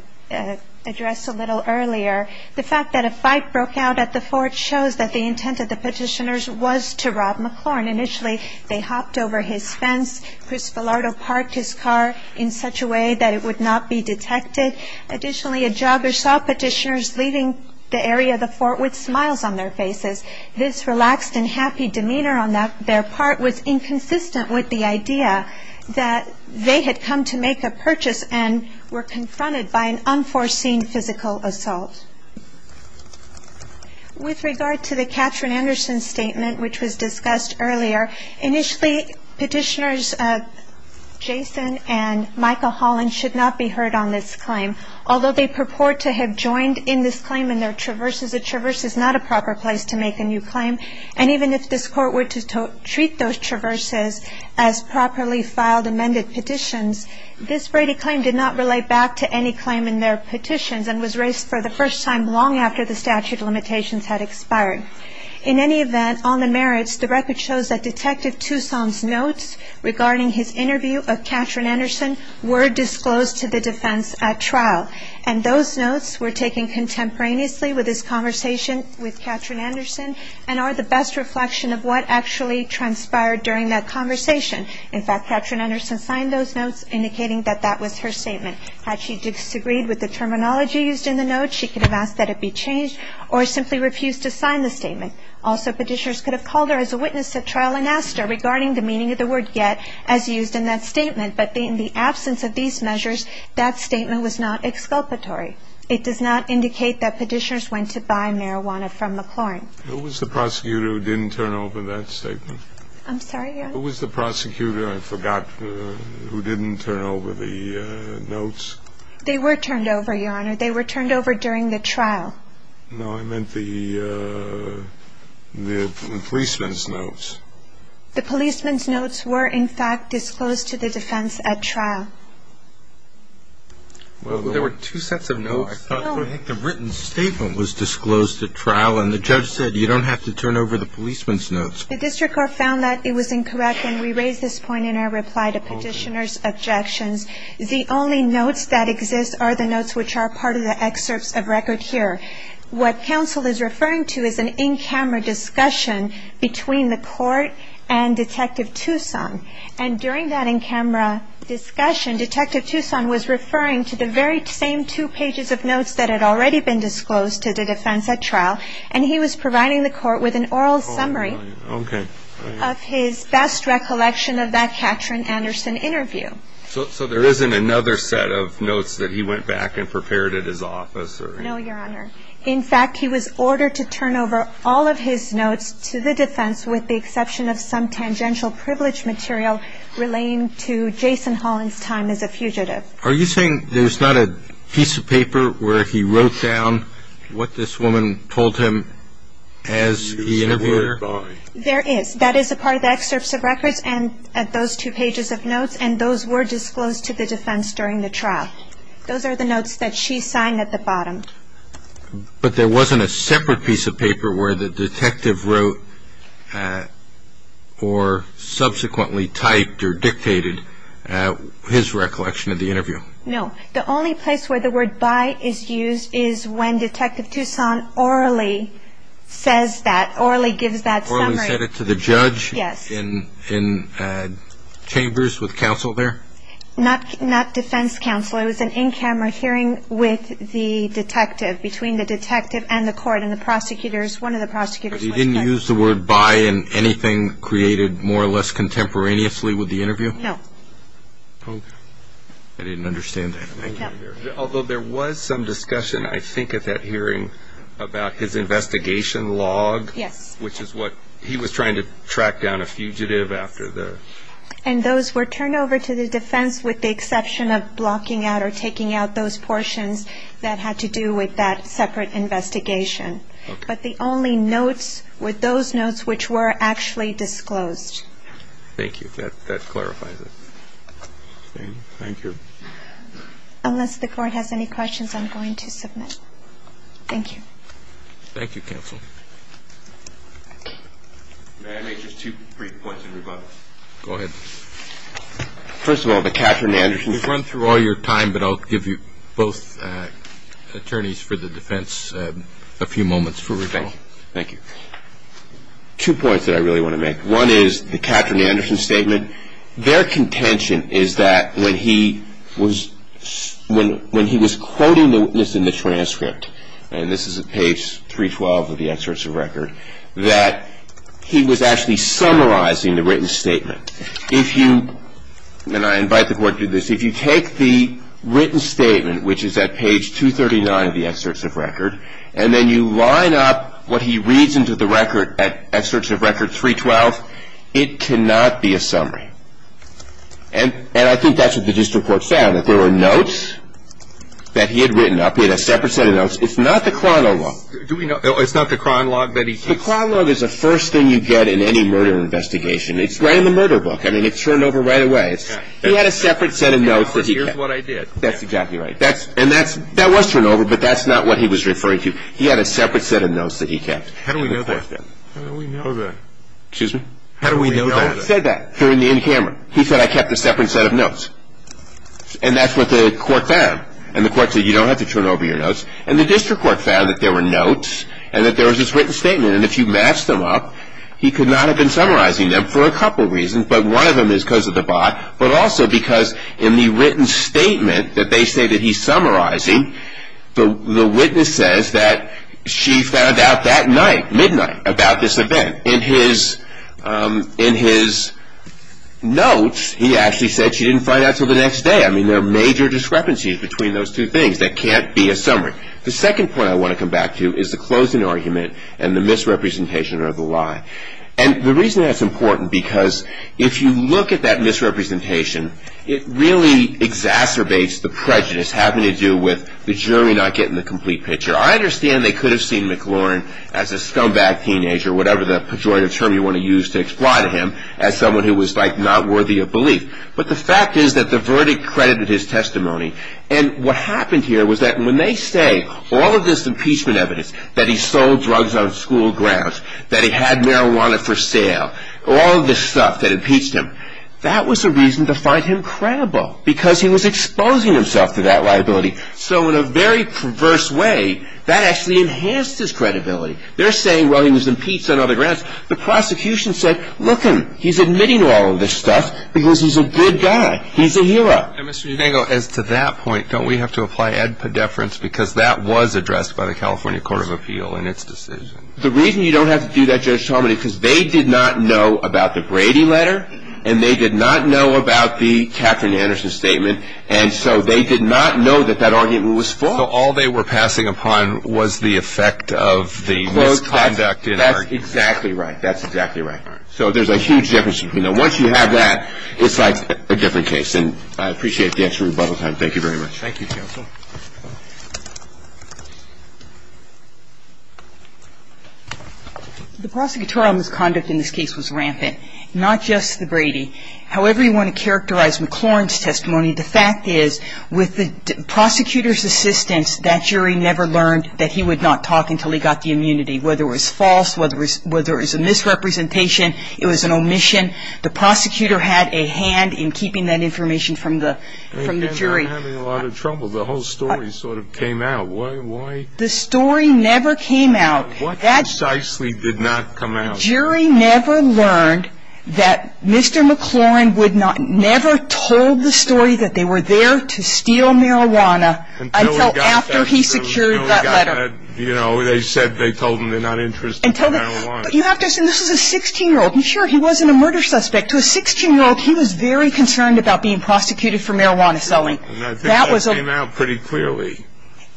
addressed a little earlier, the fact that a fight broke out at the fort shows that the intent of the Petitioners was to rob McLaurin. Initially, they hopped over his fence. Chris Villardo parked his car in such a way that it would not be detected. Additionally, a jogger saw Petitioners leaving the area of the fort with smiles on their faces. This relaxed and happy demeanor on their part was inconsistent with the idea that they had come to make a purchase and were confronted by an unforeseen physical assault. With regard to the Katherine Anderson statement, which was discussed earlier, initially, Petitioners Jason and Micah Holland should not be heard on this claim. Although they purport to have joined in this claim in their traverses, a traverse is not a proper place to make a new claim. And even if this Court were to treat those traverses as properly filed amended petitions, this Brady claim did not relate back to any claim in their petitions and was raised for the first time long after the statute of limitations had expired. In any event, on the merits, the record shows that Detective Toussaint's notes regarding his interview of Katherine Anderson were disclosed to the defense at trial. And those notes were taken contemporaneously with this conversation with Katherine Anderson and are the best reflection of what actually transpired during that conversation. In fact, Katherine Anderson signed those notes indicating that that was her statement. Had she disagreed with the terminology used in the notes, she could have asked that it be changed or simply refused to sign the statement. Also, Petitioners could have called her as a witness at trial and asked her regarding the meaning of the word yet as used in that statement. But in the absence of these measures, that statement was not exculpatory. It does not indicate that Petitioners went to buy marijuana from McLaurin. Who was the prosecutor who didn't turn over that statement? I'm sorry, Your Honor? Who was the prosecutor, I forgot, who didn't turn over the notes? They were turned over, Your Honor. They were turned over during the trial. No, I meant the policeman's notes. The policeman's notes were, in fact, disclosed to the defense at trial. Well, there were two sets of notes. No, I thought the written statement was disclosed at trial, and the judge said, you don't have to turn over the policeman's notes. The district court found that it was incorrect, and we raise this point in our reply to Petitioners' objections. The only notes that exist are the notes which are part of the excerpts of record here. What counsel is referring to is an in-camera discussion between the court and Detective Toussaint. And during that in-camera discussion, Detective Toussaint was referring to the very same two pages of notes that had already been disclosed to the defense at trial, and he was providing the court with an oral summary of his best recollection of that Katrin Anderson interview. So there isn't another set of notes that he went back and prepared at his office? No, Your Honor. In fact, he was ordered to turn over all of his notes to the defense, with the exception of some tangential privilege material relating to Jason Holland's time as a fugitive. Are you saying there's not a piece of paper where he wrote down what this woman told him as he interviewed her? There is. That is a part of the excerpts of records at those two pages of notes, and those were disclosed to the defense during the trial. Those are the notes that she signed at the bottom. But there wasn't a separate piece of paper where the detective wrote or subsequently typed or dictated his recollection of the interview? No. The only place where the word by is used is when Detective Toussaint orally says that, orally gives that summary. Orally said it to the judge? Yes. In chambers with counsel there? Not defense counsel. It was an in-camera hearing with the detective, between the detective and the court, and the prosecutors, one of the prosecutors was there. But he didn't use the word by in anything created more or less contemporaneously with the interview? No. I didn't understand that. Although there was some discussion, I think, at that hearing about his investigation log, which is what he was trying to track down a fugitive after the ---- And those were turned over to the defense with the exception of blocking out or taking out those portions that had to do with that separate investigation. Okay. But the only notes were those notes which were actually disclosed. Thank you. That clarifies it. Thank you. Unless the Court has any questions, I'm going to submit. Thank you. Thank you, counsel. May I make just two brief points in rebuttal? Go ahead. First of all, the Katherine Anderson ---- You've run through all your time, but I'll give you both attorneys for the defense a few moments for rebuttal. Thank you. Two points that I really want to make. One is the Katherine Anderson statement. Their contention is that when he was quoting the witness in the transcript, and this is at page 312 of the excerpts of record, that he was actually summarizing the written statement. If you ---- and I invite the Court to do this. If you take the written statement, which is at page 239 of the excerpts of record, and then you line up what he reads into the record at excerpts of record 312, it cannot be a summary. And I think that's what the district court found, that there were notes that he had written up. He had a separate set of notes. It's not the chronologue. It's not the chronologue that he kept? The chronologue is the first thing you get in any murder investigation. It's right in the murder book. I mean, it's turned over right away. He had a separate set of notes that he kept. Here's what I did. That's exactly right. And that was turned over, but that's not what he was referring to. He had a separate set of notes that he kept. How do we know that? How do we know that? Excuse me? How do we know that? He said that during the in camera. He said, I kept a separate set of notes. And that's what the Court found. And the Court said, you don't have to turn over your notes. And the district court found that there were notes and that there was this written statement. And if you match them up, he could not have been summarizing them for a couple reasons. But one of them is because of the bot. But also because in the written statement that they say that he's summarizing, the witness says that she found out that night, midnight, about this event. In his notes, he actually said she didn't find out until the next day. I mean, there are major discrepancies between those two things that can't be a summary. The second point I want to come back to is the closing argument and the misrepresentation or the lie. And the reason that's important because if you look at that misrepresentation, it really exacerbates the prejudice having to do with the jury not getting the complete picture. I understand they could have seen McLaurin as a scumbag teenager, whatever the pejorative term you want to use to exploit him, as someone who was not worthy of belief. But the fact is that the verdict credited his testimony. And what happened here was that when they say all of this impeachment evidence, that he sold drugs on school grounds, that he had marijuana for sale, all of this stuff that impeached him, that was a reason to find him credible because he was exposing himself to that liability. So in a very perverse way, that actually enhanced his credibility. They're saying, well, he was impeached on other grounds. The prosecution said, look him. He's admitting to all of this stuff because he's a good guy. He's a hero. And, Mr. Yudango, as to that point, don't we have to apply ad pedeference because that was addressed by the California Court of Appeal in its decision? The reason you don't have to do that, Judge Talmadge, is because they did not know about the Brady letter and they did not know about the Katherine Anderson statement. And so they did not know that that argument was false. So all they were passing upon was the effect of the misconduct in argument. That's exactly right. That's exactly right. So there's a huge difference. Once you have that, it's like a different case. And I appreciate the extra rebuttal time. Thank you very much. Thank you, counsel. The prosecutorial misconduct in this case was rampant, not just the Brady. However you want to characterize McLaurin's testimony, the fact is with the prosecutor's assistance, that jury never learned that he would not talk until he got the immunity, whether it was false, whether it was a misrepresentation, it was an omission. The prosecutor had a hand in keeping that information from the jury. I'm having a lot of trouble. The whole story sort of came out. Why? The story never came out. What precisely did not come out? Jury never learned that Mr. McLaurin would not, never told the story that they were there to steal marijuana until after he secured that letter. They said they told him they're not interested in marijuana. But you have to assume this was a 16-year-old. I'm sure he wasn't a murder suspect. To a 16-year-old, he was very concerned about being prosecuted for marijuana selling. And I think that came out pretty clearly.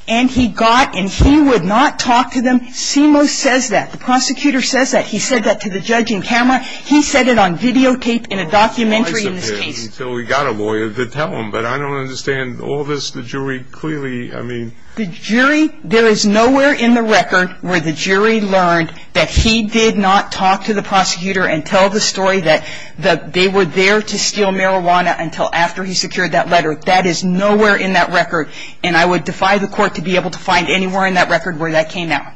And he got, and he would not talk to them. CMO says that. The prosecutor says that. He said that to the judge in camera. He said it on videotape in a documentary in this case. Until we got a lawyer to tell him. But I don't understand. All this, the jury clearly, I mean. The jury, there is nowhere in the record where the jury learned that he did not talk to the prosecutor and tell the story that they were there to steal marijuana until after he secured that letter. That is nowhere in that record. And I would defy the court to be able to find anywhere in that record where that came out.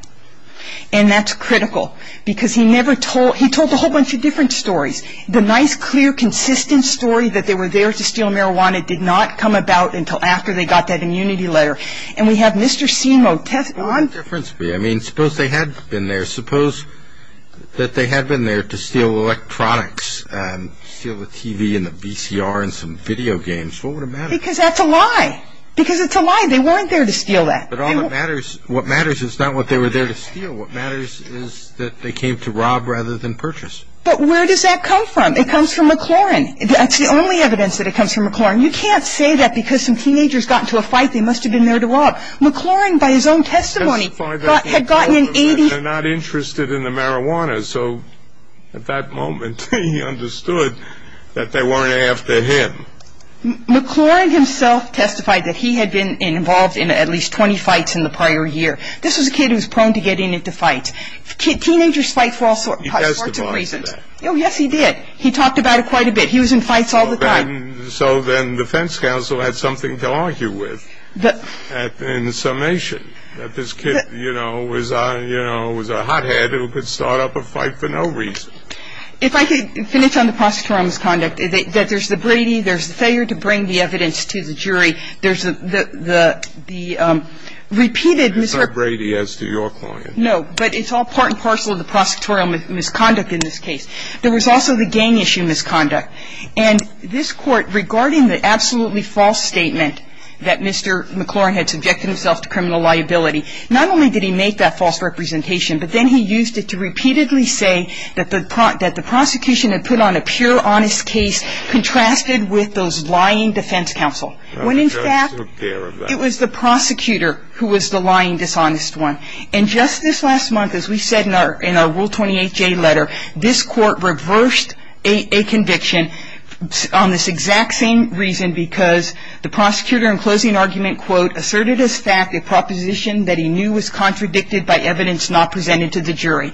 And that's critical. Because he never told, he told a whole bunch of different stories. The nice, clear, consistent story that they were there to steal marijuana did not come about until after they got that immunity letter. And we have Mr. CMO testifying. What would the difference be? I mean, suppose they had been there. Suppose that they had been there to steal electronics, steal the TV and the VCR and some video games. What would have mattered? Because that's a lie. Because it's a lie. They weren't there to steal that. But all that matters, what matters is not what they were there to steal. What matters is that they came to rob rather than purchase. But where does that come from? It comes from McLaurin. That's the only evidence that it comes from McLaurin. You can't say that because some teenagers got into a fight. They must have been there to rob. McLaurin, by his own testimony, had gotten an 80. They're not interested in the marijuana. So at that moment he understood that they weren't after him. McLaurin himself testified that he had been involved in at least 20 fights in the prior year. This was a kid who was prone to getting into fights. Teenagers fight for all sorts of reasons. He testified to that. Oh, yes, he did. He talked about it quite a bit. He was in fights all the time. And so then the defense counsel had something to argue with in summation, that this kid, you know, was a hothead who could start up a fight for no reason. If I could finish on the prosecutorial misconduct, that there's the Brady, there's the failure to bring the evidence to the jury, there's the repeated misrepresentation. It's not Brady as to your client. No. But it's all part and parcel of the prosecutorial misconduct in this case. There was also the gang issue misconduct. And this Court, regarding the absolutely false statement that Mr. McLaurin had subjected himself to criminal liability, not only did he make that false representation, but then he used it to repeatedly say that the prosecution had put on a pure, honest case contrasted with those lying defense counsel. When, in fact, it was the prosecutor who was the lying, dishonest one. And just this last month, as we said in our Rule 28J letter, this Court reversed a conviction on this exact same reason, because the prosecutor in closing argument, quote, asserted as fact a proposition that he knew was contradicted by evidence not presented to the jury.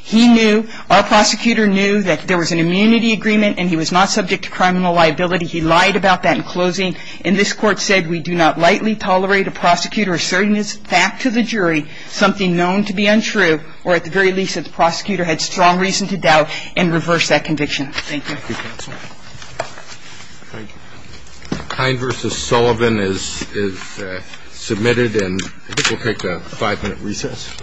He knew, our prosecutor knew that there was an immunity agreement, and he was not subject to criminal liability. He lied about that in closing. And this Court said, we do not lightly tolerate a prosecutor asserting as fact to the jury something known to be untrue or, at the very least, that the prosecutor had strong reason to doubt and reverse that conviction. Thank you. Thank you, counsel. Thank you. Kine v. Sullivan is submitted, and I think we'll take a five-minute recess.